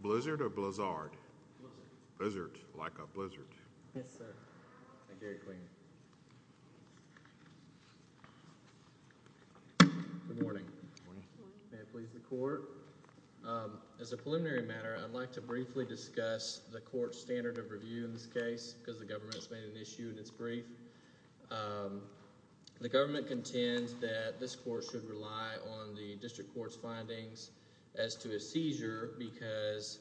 Blizzard or Blizzard? Blizzard. Like a blizzard. Yes, sir. Good morning. May it please the court. As a preliminary matter, I'd like to briefly discuss the court's standard of review in this case because the government has made an issue in its brief. The government contends that this court should rely on the district court's findings as to a seizure because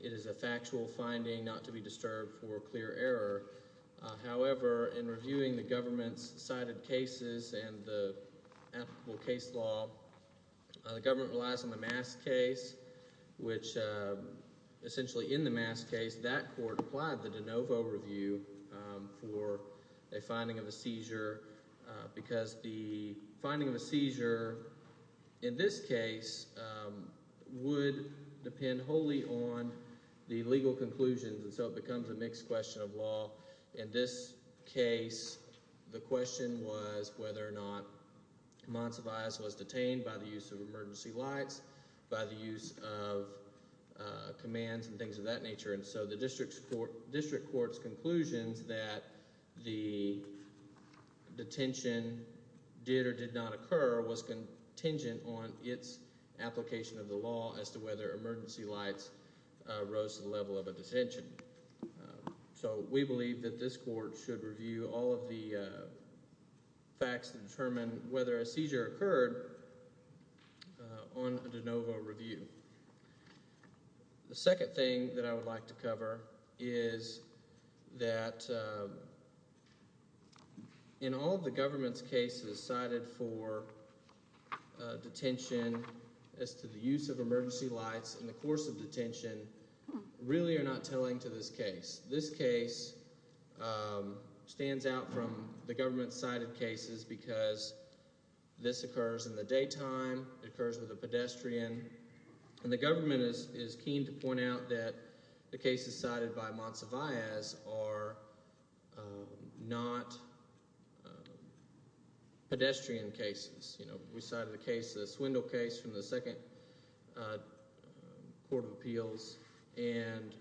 it is a factual finding not to be disturbed for clear error. However, in reviewing the government's cited cases and the applicable case law, the government relies on the Mass case, which essentially in the Mass case, that court applied the seizure because the finding of a seizure in this case would depend wholly on the legal conclusions and so it becomes a mixed question of law. In this case, the question was whether or not Monsivais was detained by the use of emergency lights, by the use of commands and things of that nature, and so the detention did or did not occur was contingent on its application of the law as to whether emergency lights rose to the level of a detention. So we believe that this court should review all of the facts that determine whether a seizure occurred on a de novo review. The second thing that I would like to cover is that in all the government's cases cited for detention as to the use of emergency lights in the course of detention really are not telling to this case. This case stands out from the government's cited cases because this occurs in the daytime, it occurs with a pedestrian, and the government is keen to point out that the cases cited by Monsivais are not pedestrian cases. You know, we cited a case, the Swindle case from the Second Court of Appeals, and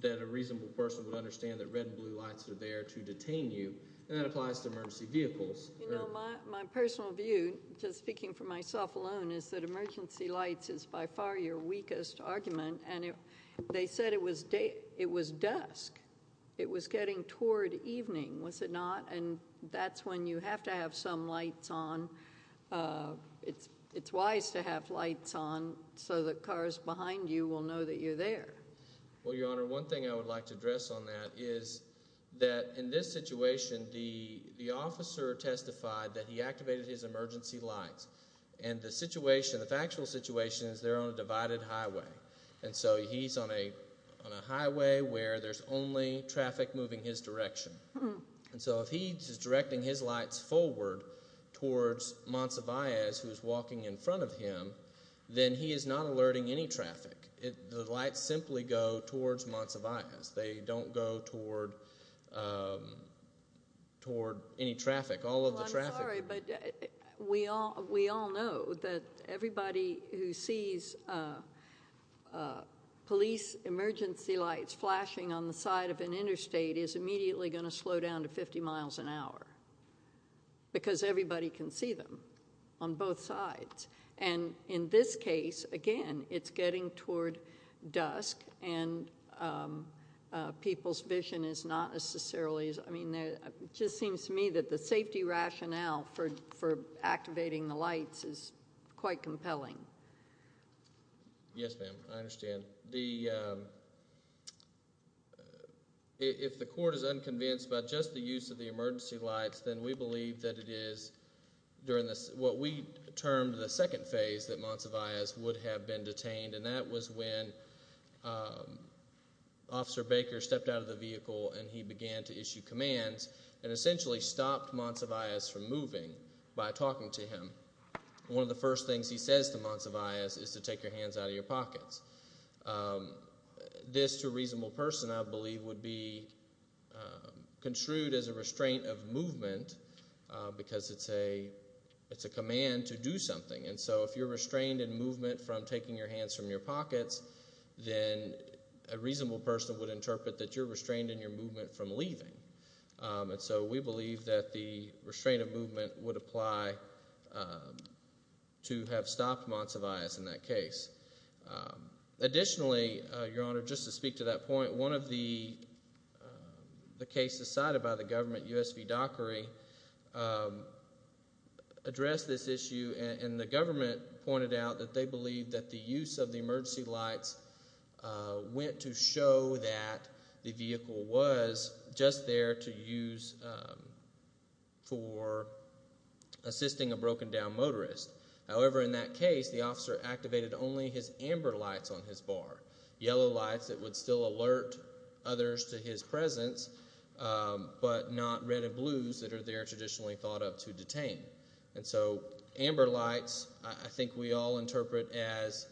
that a reasonable person would understand that red and blue lights are there to detain you, and that applies to emergency vehicles. You know, my personal view, just speaking for myself alone, is that emergency lights is by far your weakest argument, and they said it was dusk, it was getting toward evening, was it not? And that's when you have to have some lights on. It's wise to have lights on so that cars behind you will know that you're there. Well, Your Honor, one thing I would like to address on that is that in this situation, the officer testified that he activated his emergency lights, and the situation, the factual situation, is they're on a divided highway, and so he's on a highway where there's only traffic moving his direction, and so if he's directing his lights forward towards Monsivais, who's walking in front of him, then he is not alerting any traffic. The lights simply go towards Monsivais. They don't go toward any traffic, all of the traffic. Well, I'm sorry, but we all know that everybody who sees police emergency lights flashing on the side of an interstate is immediately going to slow down to 50 miles an hour, because everybody can see them on both sides, and in this case, again, it's getting toward dusk, and people's vision is not necessarily, I mean, it just seems to me that the safety rationale for activating the lights is quite compelling. Yes, ma'am, I understand. If the court is unconvinced about just the use of the emergency lights, then we termed the second phase that Monsivais would have been detained, and that was when Officer Baker stepped out of the vehicle, and he began to issue commands and essentially stopped Monsivais from moving by talking to him. One of the first things he says to Monsivais is to take your hands out of your pockets. This, to a reasonable person, I believe, would be construed as a restraint of hand to do something, and so if you're restrained in movement from taking your hands from your pockets, then a reasonable person would interpret that you're restrained in your movement from leaving, and so we believe that the restraint of movement would apply to have stopped Monsivais in that case. Additionally, Your Honor, just to speak to that point, one of the cases cited by the issue, and the government pointed out that they believe that the use of the emergency lights went to show that the vehicle was just there to use for assisting a broken-down motorist. However, in that case, the officer activated only his amber lights on his bar, yellow lights that would still alert others to his presence, but not red and blues that are there traditionally thought up to be amber lights. I think we all interpret as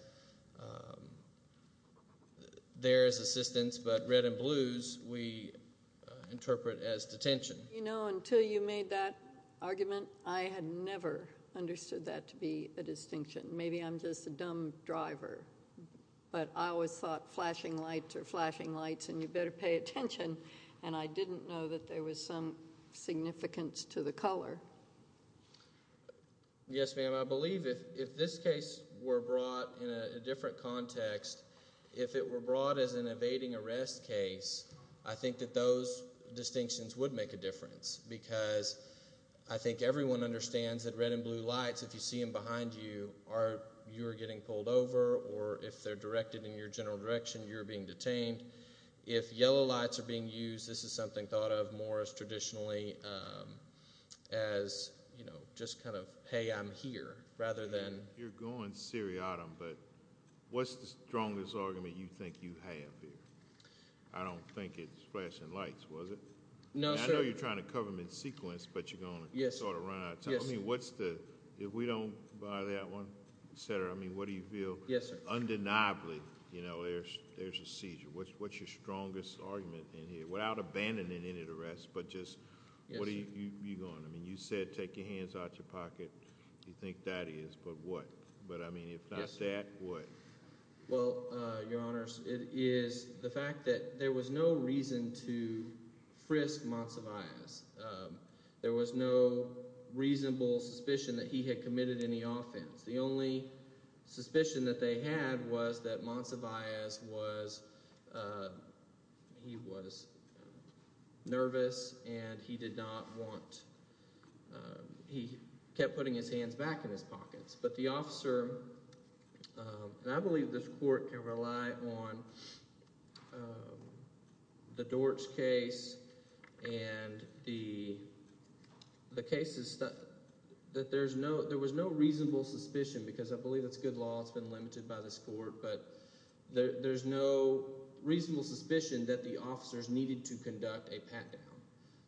there is assistance, but red and blues, we interpret as detention. You know, until you made that argument, I had never understood that to be a distinction. Maybe I'm just a dumb driver, but I always thought flashing lights are flashing lights, and you better pay attention, and I didn't know that there was some significance to the color. Yes, ma'am. I believe if this case were brought in a different context, if it were brought as an evading arrest case, I think that those distinctions would make a difference, because I think everyone understands that red and blue lights, if you see them behind you, you are getting pulled over, or if they're directed in your general direction, you're being detained. If yellow lights are being used, this is something thought of more as traditionally as, you know, just kind of, hey, I'm here, rather than... You're going seriatim, but what's the strongest argument you think you have here? I don't think it's flashing lights, was it? No, sir. I know you're trying to cover them in sequence, but you're going to sort of run out of time. I mean, what's the, if we don't buy that one, etc., I mean, what do you feel? Yes, sir. Undeniably, you know, there's a seizure. What's your strongest argument in here, without abandoning any of the rest, but just, what are you going? I mean, you said, take your hands out your pocket. You think that is, but what? But, I mean, if not that, what? Well, Your Honor, it is the fact that there was no reason to frisk Monsivais. There was no reasonable suspicion that he had committed any offense. The only suspicion that they had was that Monsivais was, he was nervous, and he did not want, he kept putting his hands back in his pockets, but the officer, and I believe this court can rely on the Dortch case and the cases that, that there's no, there was no limited by this court, but there's no reasonable suspicion that the officers needed to conduct a pat-down.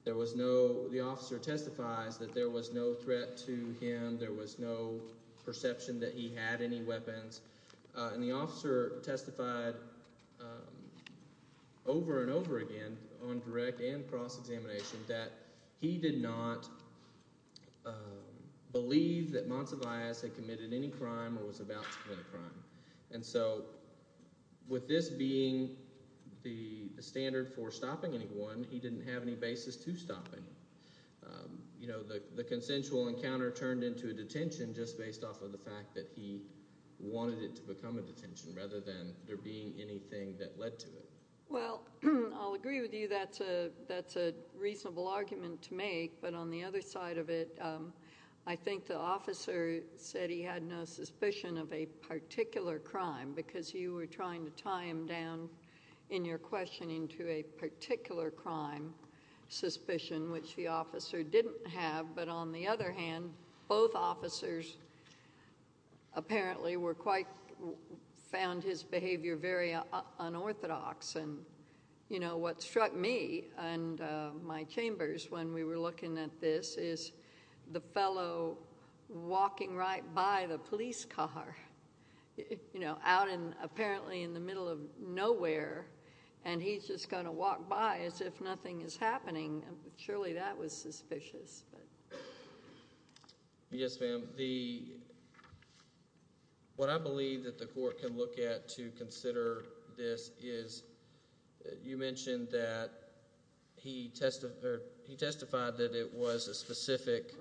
There was no, the officer testifies that there was no threat to him, there was no perception that he had any weapons, and the officer testified over and over again on direct and cross-examination that he did not believe that Monsivais had committed any crime or was about to commit a crime, and so with this being the standard for stopping anyone, he didn't have any basis to stop anyone. You know, the consensual encounter turned into a detention just based off of the fact that he wanted it to become a detention, rather than there being anything that led to it. Well, I'll agree with you, that's a, that's a good point. I think the officer said he had no suspicion of a particular crime, because you were trying to tie him down in your questioning to a particular crime suspicion, which the officer didn't have, but on the other hand, both officers apparently were quite, found his behavior very unorthodox, and you know, what struck me and my chambers when we were looking at this is the fellow walking right by the police car, you know, out in, apparently in the middle of nowhere, and he's just going to walk by as if nothing is happening. Surely that was suspicious. Yes ma'am. The, what I believe that the court can look at to consider this is, you mentioned that he testified that it was a specific,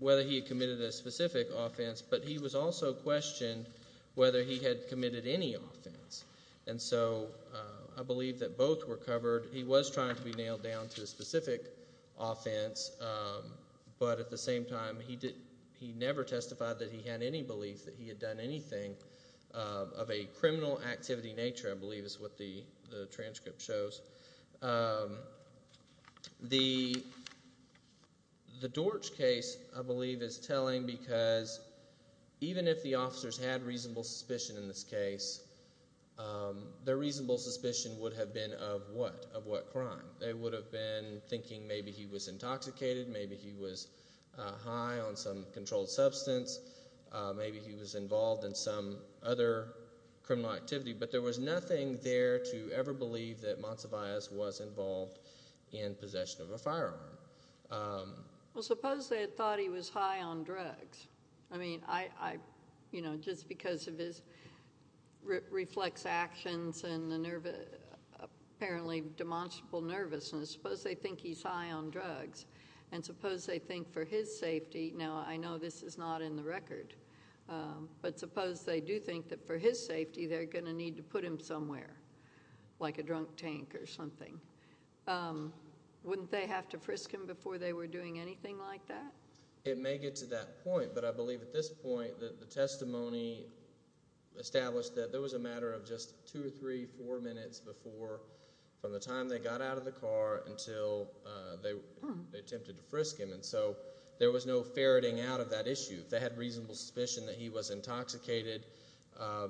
whether he committed a specific offense, but he was also questioned whether he had committed any offense, and so I believe that both were covered. He was trying to be nailed down to a specific offense, but at the same time, he did, he never testified that he had done anything of a criminal activity nature, I believe is what the transcript shows. The, the Dorch case, I believe, is telling because even if the officers had reasonable suspicion in this case, their reasonable suspicion would have been of what, of what crime? They would have been thinking maybe he was intoxicated, maybe he was high on some controlled substance, maybe he was involved in some other criminal activity, but there was nothing there to ever believe that Monsivais was involved in possession of a firearm. Well, suppose they had thought he was high on drugs. I mean, I, I, you know, just because of his reflex actions and the nervous, apparently demonstrable nervousness, suppose they think he's high on drugs, and suppose they think for his but suppose they do think that for his safety, they're going to need to put him somewhere, like a drunk tank or something. Wouldn't they have to frisk him before they were doing anything like that? It may get to that point, but I believe at this point that the testimony established that there was a matter of just two or three, four minutes before, from the time they got out of the car until they attempted to frisk him, and so there was no ferreting out of that issue. If they had reasonable suspicion that he was intoxicated,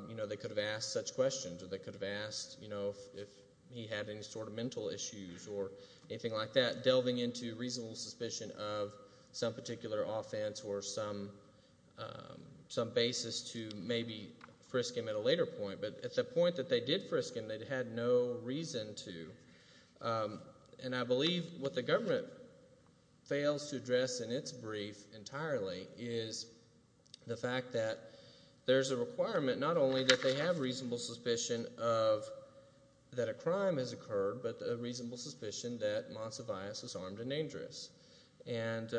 you know, they could have asked such questions, or they could have asked, you know, if he had any sort of mental issues or anything like that, delving into reasonable suspicion of some particular offense or some, some basis to maybe frisk him at a later point, but at the point that they did frisk him, they'd had no reason to, and I believe it's the fact that there's a requirement, not only that they have reasonable suspicion of, that a crime has occurred, but a reasonable suspicion that Monsivius is armed and dangerous, and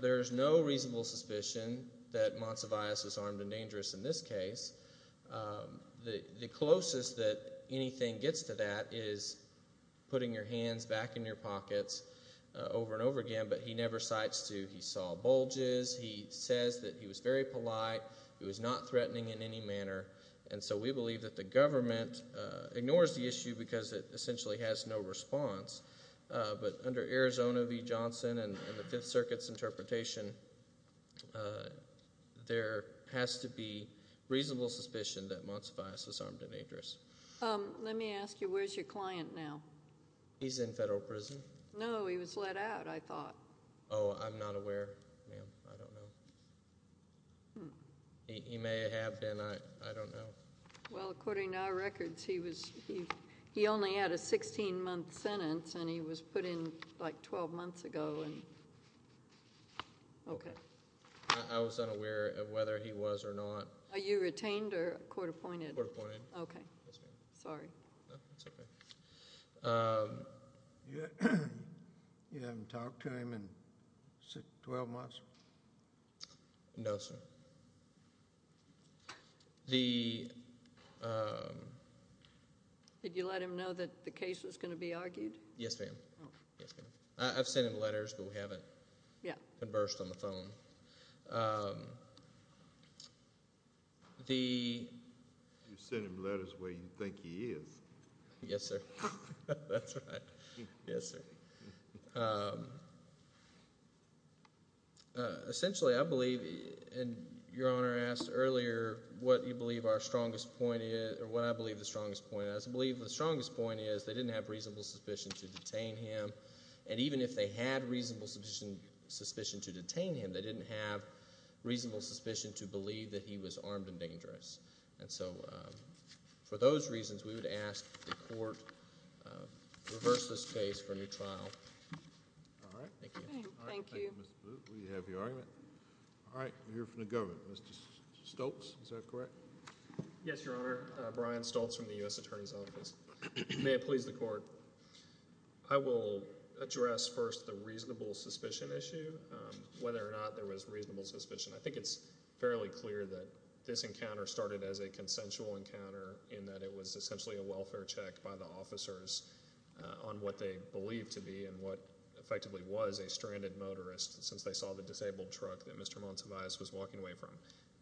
there's no reasonable suspicion that Monsivius is armed and dangerous in this case. The closest that anything gets to that is putting your hands back in your pockets over and over again, but he never bulges, he says that he was very polite, he was not threatening in any manner, and so we believe that the government ignores the issue because it essentially has no response, but under Arizona v. Johnson and the Fifth Circuit's interpretation, there has to be reasonable suspicion that Monsivius is armed and dangerous. Let me ask you, where's your client now? He's in federal prison. No, he was let out, I thought. Oh, I'm not aware, ma'am, I don't know. He may have been, I don't know. Well, according to our records, he only had a 16-month sentence, and he was put in, like, 12 months ago, and, okay. I was unaware of whether he was or not. Are you retained or court-appointed? Court-appointed. Okay. Yes, ma'am. Sorry. No, that's okay. You haven't talked to him in 12 months? No, sir. Did you let him know that the case was going to be argued? Yes, ma'am. Oh. Yes, ma'am. You sent him letters where you think he is. Yes, sir. That's right. Yes, sir. Essentially, I believe, and Your Honor asked earlier what you believe our strongest point is, or what I believe the strongest point is. I believe the strongest point is they didn't have reasonable suspicion to detain him, and even if they had reasonable suspicion to detain him, they didn't have reasonable suspicion to believe that he was armed and dangerous. And so, for those reasons, we would ask that the court reverse this case for a new trial. All right. Thank you. Thank you. All right. Thank you, Mr. Booth. We have your argument. All right. We'll hear from the government. Mr. Stoltz, is that correct? Yes, Your Honor. Brian Stoltz from the U.S. Attorney's Office. May it please the Court. I will address first the reasonable suspicion issue, whether or not there was reasonable suspicion. I think it's fairly clear that this encounter started as a consensual encounter in that it was essentially a welfare check by the officers on what they believed to be and what effectively was a stranded motorist since they saw the disabled truck that Mr. Montevious was walking away from.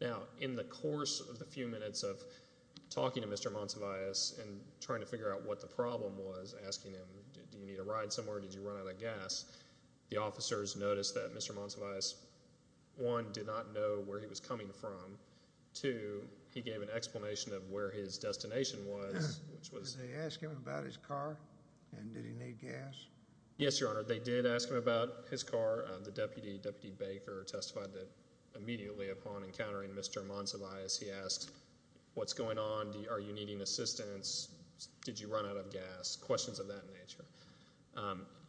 Now, in the course of the few minutes of talking to Mr. Montevious and trying to figure out what the problem was, asking him, do you need a ride somewhere? Did you run out of gas? The officers noticed that Mr. Montevious, one, did not know where he was coming from. Two, he gave an explanation of where his destination was. Did they ask him about his car and did he need gas? Yes, Your Honor. They did ask him about his car. The Deputy, Deputy Baker, testified that immediately upon encountering Mr. Montevious, he asked, what's going on? Are you needing assistance? Did you run out of gas? Questions of that nature.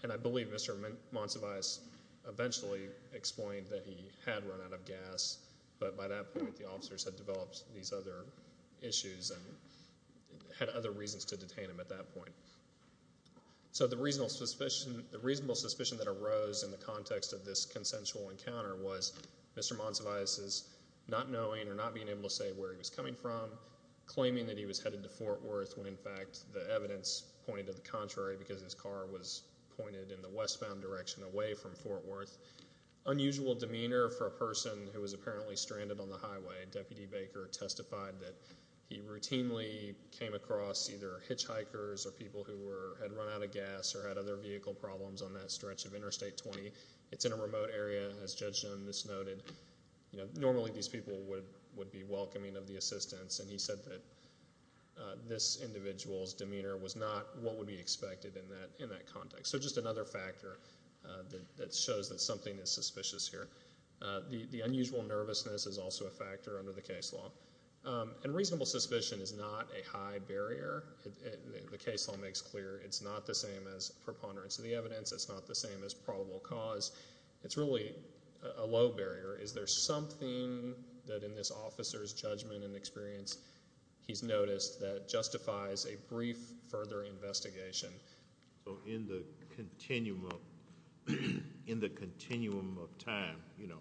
And I believe Mr. Montevious eventually explained that he had run out of gas, but by that point the officers had developed these other issues and had other reasons to detain him at that point. So the reasonable suspicion that arose in the context of this consensual encounter was Mr. Montevious's not knowing or not being able to say where he was coming from, claiming that he was headed to Fort Worth when in fact the evidence pointed to the contrary because his car was pointed in the westbound direction away from Fort Worth. Unusual demeanor for a person who was apparently stranded on the highway. Deputy Baker testified that he routinely came across either hitchhikers or people who had run out of gas or had other vehicle problems on that stretch of Interstate 20. It's in a remote area, as Judge Jones noted. Normally these people would be welcoming of the assistance and he said that this individual's demeanor was not what would be expected in that context. So just another factor that shows that something is suspicious here. The unusual nervousness is also a factor under the case law. And reasonable suspicion is not a high barrier. The case law makes clear it's not the same as preponderance of the evidence. It's not the same as probable cause. It's really a low barrier. Is there something that in this officer's judgment and experience he's noticed that justifies a brief further investigation? So in the continuum of time, you know,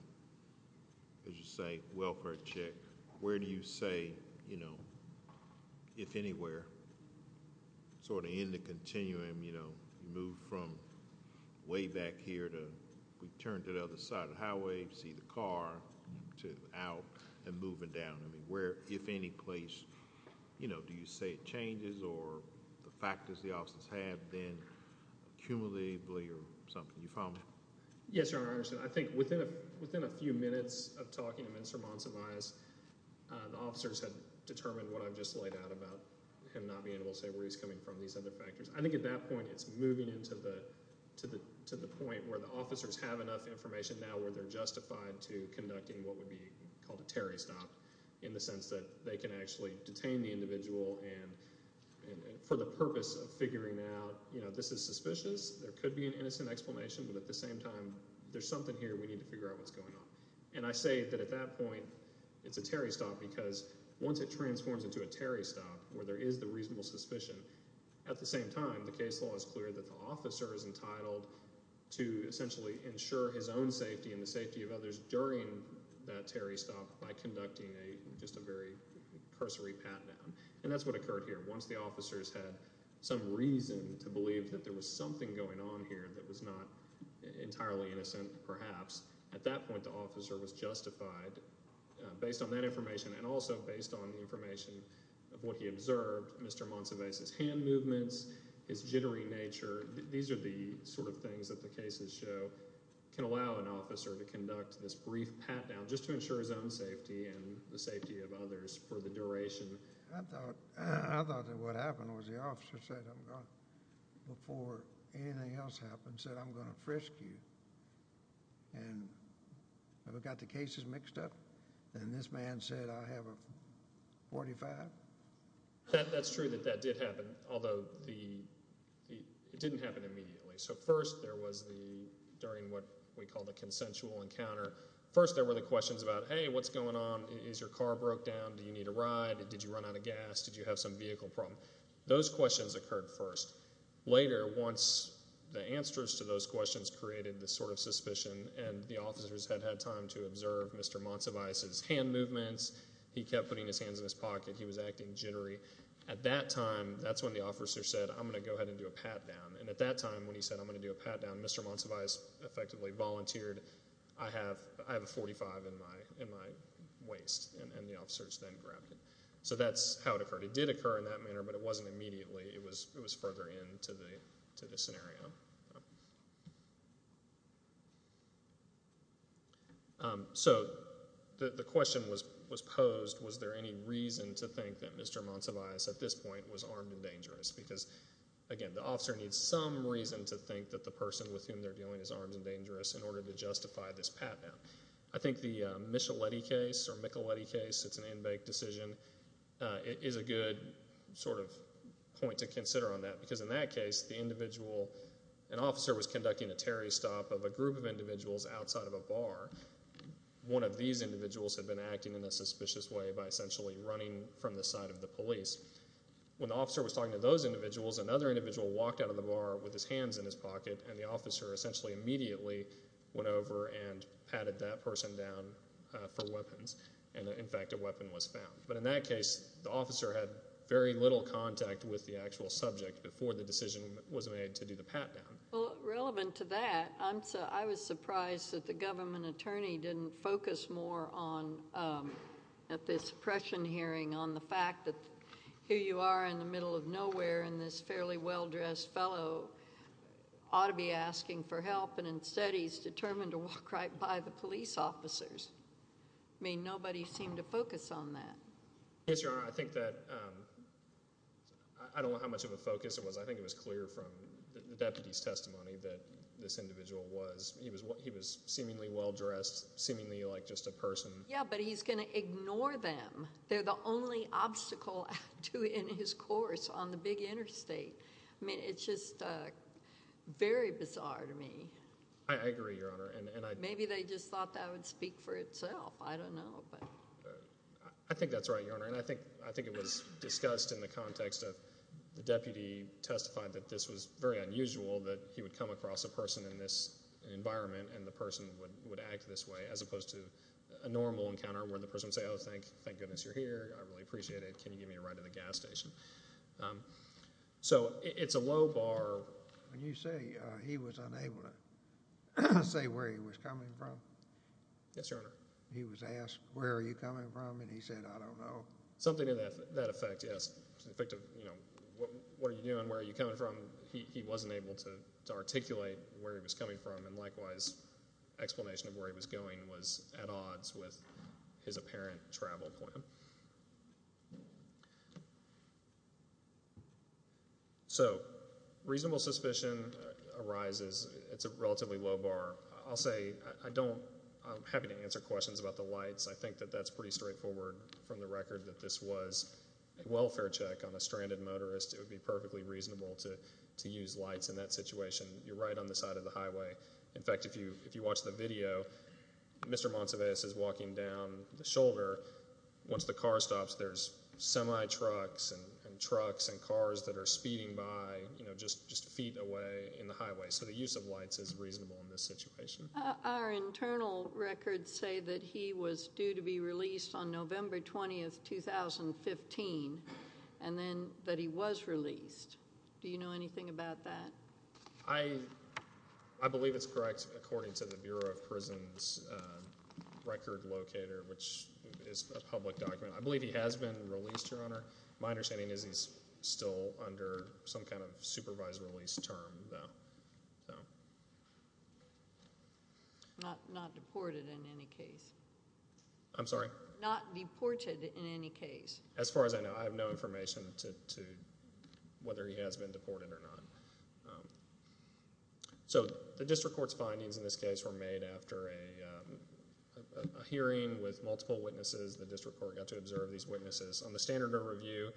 as you say, welfare check, where do you say, you know, if anywhere, sort of in the continuum, you know, you move from way back here to we turn to the other side of the highway, see the car, to out and moving down. Where, if any place, you know, do you say it changes or the factors the officers have been accumulatively or something? You follow me? Yes, Your Honor, I understand. I think within a few minutes of talking to Mr. Monsivais, the officers had determined what I've just laid out about him not being able to say where he's coming from, these other factors. I think at that point it's moving into the point where the officers have enough information now where they're justified to conducting what would be called a Terry stop in the sense that they can actually detain the individual and for the purpose of figuring out, you know, this is suspicious, there could be an innocent explanation, but at the same time there's something here we need to figure out what's going on. And I say that at that point it's a Terry stop because once it transforms into a Terry stop, where there is the reasonable suspicion, at the same time the case law is clear that the officer is entitled to essentially ensure his own safety and the safety of others during that Terry stop by conducting just a very cursory pat-down. And that's what occurred here. Once the officers had some reason to believe that there was something going on here that was not entirely innocent, perhaps, at that point the officer was justified based on that information and also based on the information of what he observed. Mr. Monsivais' hand movements, his jittery nature, these are the sort of things that the cases show can allow an officer to conduct this brief pat-down just to ensure his own safety and the safety of others for the duration. I thought that what happened was the officer said, before anything else happened, said, I'm going to frisk you. And have we got the cases mixed up? And this man said, I have a .45. That's true that that did happen, although it didn't happen immediately. So first there was the, during what we call the consensual encounter, first there were the questions about, hey, what's going on? Is your car broke down? Do you need a ride? Did you run out of gas? Did you have some vehicle problem? Those questions occurred first. Later, once the answers to those questions created this sort of suspicion and the officers had had time to observe Mr. Monsivais' hand movements, he kept putting his hands in his pocket, he was acting jittery. At that time, that's when the officer said, I'm going to go ahead and do a pat-down. And at that time when he said, I'm going to do a pat-down, Mr. Monsivais effectively volunteered, I have a .45 in my waist. And the officers then grabbed it. So that's how it occurred. It did occur in that manner, but it wasn't immediately. It was further into the scenario. So the question was posed, was there any reason to think that Mr. Monsivais at this point was armed and dangerous? Because, again, the officer needs some reason to think that the person with whom they're dealing is armed and dangerous in order to justify this pat-down. I think the Micheletti case, or Micheletti case, it's an in-bank decision, is a good sort of point to consider on that. Because in that case, the individual, an officer was conducting a terrorist stop of a group of individuals outside of a bar. One of these individuals had been acting in a suspicious way by essentially running from the side of the police. When the officer was talking to those individuals, another individual walked out of the bar with his hands in his pocket, and the officer essentially immediately went over and patted that person down for weapons. And, in fact, a weapon was found. But in that case, the officer had very little contact with the actual subject before the decision was made to do the pat-down. Well, relevant to that, I was surprised that the government attorney didn't focus more on, at this suppression hearing, on the fact that here you are in the middle of nowhere, and this fairly well-dressed fellow ought to be asking for help, and instead he's determined to walk right by the police officers. I mean, nobody seemed to focus on that. Yes, Your Honor, I think that—I don't know how much of a focus it was. I think it was clear from the deputy's testimony that this individual was—he was seemingly well-dressed, seemingly like just a person. Yeah, but he's going to ignore them. They're the only obstacle in his course on the big interstate. I mean, it's just very bizarre to me. I agree, Your Honor. Maybe they just thought that would speak for itself. I don't know. I think that's right, Your Honor, and I think it was discussed in the context of the deputy testified that this was very unusual, that he would come across a person in this environment, and the person would act this way, as opposed to a normal encounter where the person would say, oh, thank goodness you're here. I really appreciate it. Can you give me a ride to the gas station? So it's a low bar. When you say he was unable to say where he was coming from. Yes, Your Honor. He was asked, where are you coming from? And he said, I don't know. Something to that effect, yes. It's an effect of, you know, what are you doing? Where are you coming from? He wasn't able to articulate where he was coming from, and likewise explanation of where he was going was at odds with his apparent travel plan. So reasonable suspicion arises. It's a relatively low bar. I'll say I don't have any answer questions about the lights. I think that that's pretty straightforward from the record that this was a welfare check on a stranded motorist. It would be perfectly reasonable to use lights in that situation. You're right on the side of the highway. In fact, if you watch the video, Mr. Montevious is walking down the shoulder. Once the car stops, there's semi-trucks and trucks and cars that are speeding by, you know, just feet away in the highway. So the use of lights is reasonable in this situation. Our internal records say that he was due to be released on November 20, 2015, and then that he was released. Do you know anything about that? I believe it's correct according to the Bureau of Prisons' record locator, which is a public document. I believe he has been released, Your Honor. My understanding is he's still under some kind of supervised release term, though. Not deported in any case. I'm sorry? Not deported in any case. As far as I know, I have no information as to whether he has been deported or not. So the district court's findings in this case were made after a hearing with multiple witnesses. The district court got to observe these witnesses. On the standard of review,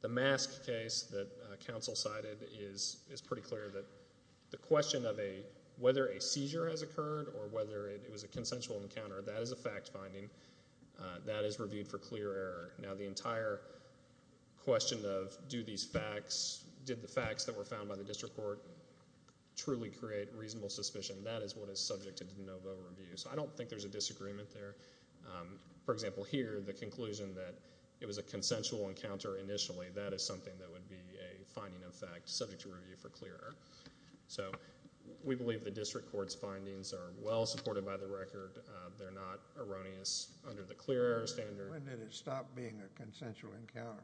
the mask case that counsel cited is pretty clear that the question of whether a seizure has occurred or whether it was a consensual encounter, that is a fact finding. That is reviewed for clear error. Now, the entire question of did the facts that were found by the district court truly create reasonable suspicion, that is what is subject to de novo review. So I don't think there's a disagreement there. For example, here, the conclusion that it was a consensual encounter initially, that is something that would be a finding of fact subject to review for clear error. So we believe the district court's findings are well supported by the record. They're not erroneous under the clear error standard. When did it stop being a consensual encounter?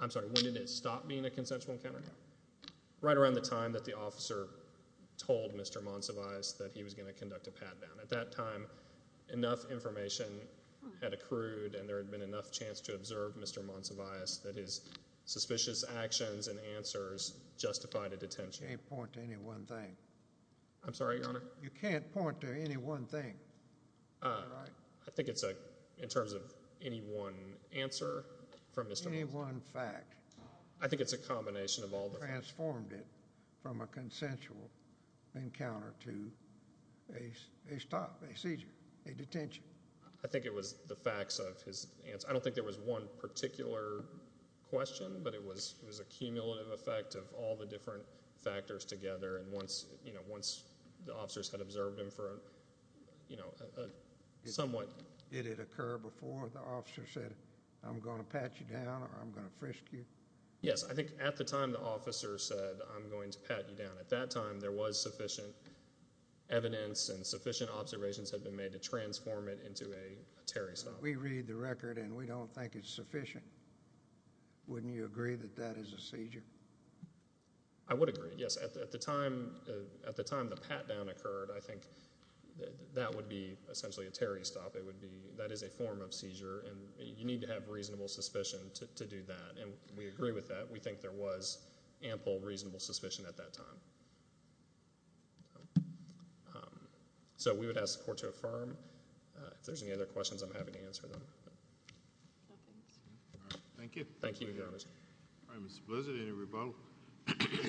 I'm sorry, when did it stop being a consensual encounter? Right around the time that the officer told Mr. Monsivais that he was going to conduct a pat-down. At that time, enough information had accrued and there had been enough chance to observe Mr. Monsivais that his suspicious actions and answers justified a detention. You can't point to any one thing. I'm sorry, Your Honor? You can't point to any one thing. I think it's in terms of any one answer from Mr. Monsivais. Any one fact. I think it's a combination of all the facts. He transformed it from a consensual encounter to a seizure, a detention. I think it was the facts of his answer. I don't think there was one particular question, but it was a cumulative effect of all the different factors together. Once the officers had observed him for a somewhat... Did it occur before the officer said, I'm going to pat you down or I'm going to frisk you? Yes, I think at the time the officer said, I'm going to pat you down. At that time, there was sufficient evidence and sufficient observations had been made to transform it into a terror assault. We read the record and we don't think it's sufficient. Wouldn't you agree that that is a seizure? I would agree, yes. At the time the pat-down occurred, I think that would be essentially a terrorist stop. That is a form of seizure, and you need to have reasonable suspicion to do that. We agree with that. We think there was ample reasonable suspicion at that time. We would ask the court to affirm. If there's any other questions, I'm happy to answer them. Thank you. Thank you, Your Honor. All right, Mr. Blissett, any rebuttals? Thank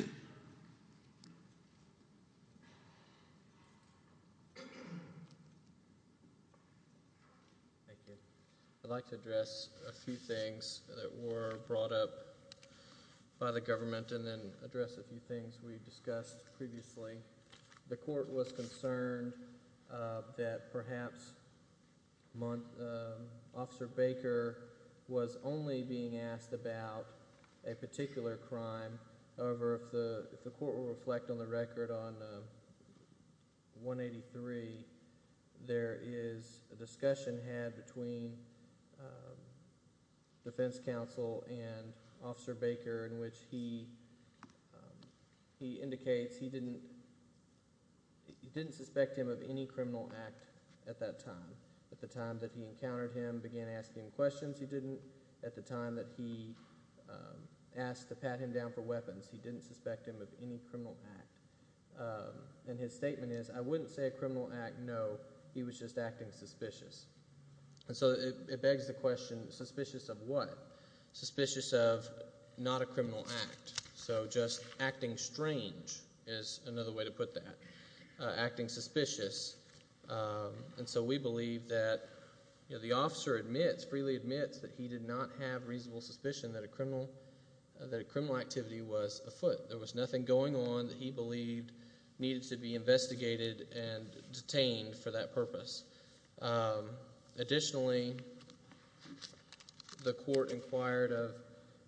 you. I'd like to address a few things that were brought up by the government and then address a few things we discussed previously. The court was concerned that perhaps Officer Baker was only being asked about a particular crime. However, if the court will reflect on the record on 183, there is a discussion had between defense counsel and Officer Baker in which he indicates he didn't suspect him of any criminal act at that time. At the time that he encountered him, began asking questions, he didn't. At the time that he asked to pat him down for weapons, he didn't suspect him of any criminal act. And his statement is, I wouldn't say a criminal act, no. He was just acting suspicious. So it begs the question, suspicious of what? Suspicious of not a criminal act. So just acting strange is another way to put that, acting suspicious. And so we believe that the officer admits, freely admits that he did not have reasonable suspicion that a criminal activity was afoot. There was nothing going on that he believed needed to be investigated and detained for that purpose. Additionally, the court inquired of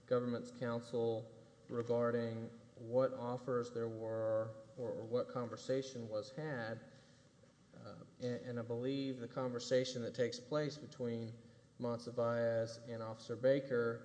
government's counsel regarding what offers there were or what conversation was had. And I believe the conversation that takes place between Monsivais and Officer Baker,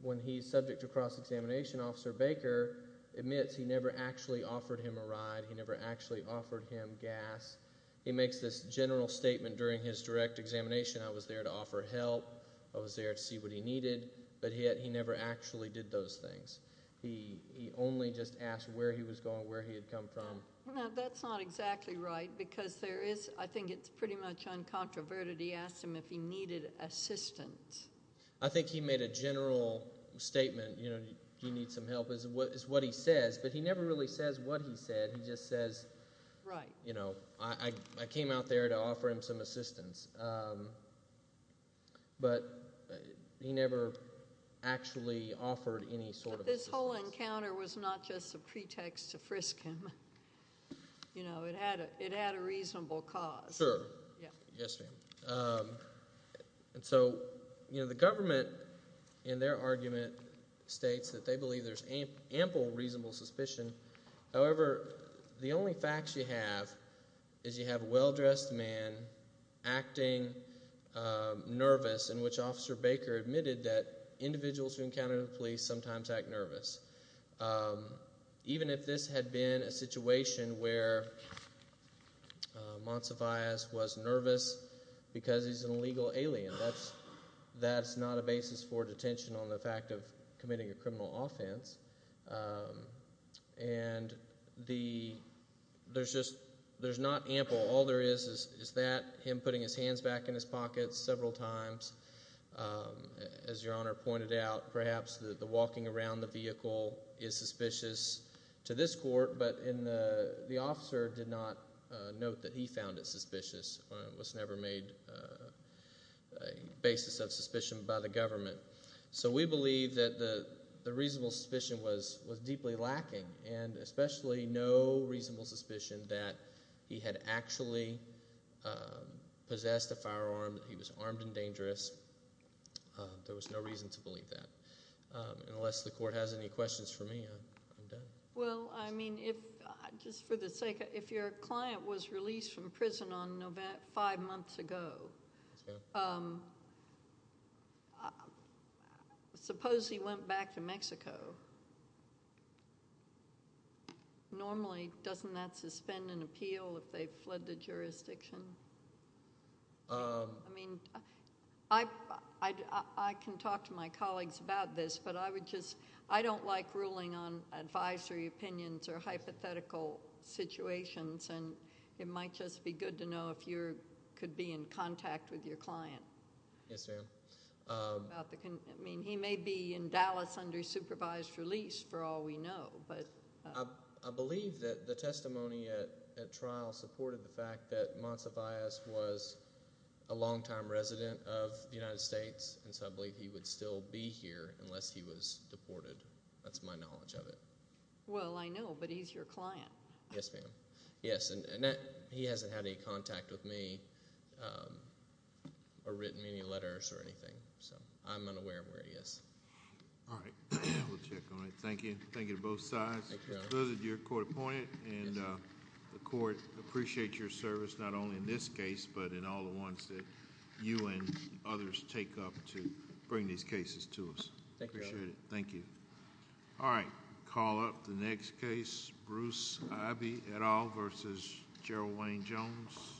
when he's subject to cross-examination, Officer Baker admits he never actually offered him a ride. He never actually offered him gas. He makes this general statement during his direct examination, I was there to offer help, I was there to see what he needed, but he never actually did those things. He only just asked where he was going, where he had come from. Now, that's not exactly right because there is, I think it's pretty much uncontroverted, he asked him if he needed assistance. I think he made a general statement, you need some help, is what he says. But he never really says what he said. He just says, I came out there to offer him some assistance, but he never actually offered any sort of assistance. But this whole encounter was not just a pretext to frisk him. It had a reasonable cause. Sure. Yes, ma'am. So the government, in their argument, states that they believe there's ample reasonable suspicion. However, the only facts you have is you have a well-dressed man acting nervous, in which Officer Baker admitted that individuals who encounter the police sometimes act nervous. Even if this had been a situation where Monsivais was nervous because he's an illegal alien, that's not a basis for detention on the fact of committing a criminal offense. And there's just, there's not ample. All there is is that, him putting his hands back in his pockets several times. As Your Honor pointed out, perhaps the walking around the vehicle is suspicious to this court, but the officer did not note that he found it suspicious. It was never made a basis of suspicion by the government. So we believe that the reasonable suspicion was deeply lacking, and especially no reasonable suspicion that he had actually possessed a firearm, that he was armed and dangerous. There was no reason to believe that. Unless the court has any questions for me, I'm done. Well, I mean, if, just for the sake of, if your client was released from prison five months ago, suppose he went back to Mexico, normally doesn't that suspend an appeal if they've fled the jurisdiction? I mean, I can talk to my colleagues about this, but I would just, I don't like ruling on advisory opinions or hypothetical situations, and it might just be good to know if you could be in contact with your client. Yes, ma'am. I mean, he may be in Dallas under supervised release for all we know, but... I believe that the testimony at trial supported the fact that Monsivias was a longtime resident of the United States, and so I believe he would still be here unless he was deported. That's my knowledge of it. Well, I know, but he's your client. Yes, ma'am. Yes, and he hasn't had any contact with me or written any letters or anything, so I'm unaware of where he is. All right. We'll check on it. Thank you. Thank you to both sides. Thank you, Your Honor. This is your court appointed, and the court appreciates your service not only in this case, but in all the ones that you and others take up to bring these cases to us. Thank you, Your Honor. Appreciate it. Thank you. All right. We'll call up the next case, Bruce Ibey et al. v. Gerald Wayne Jones.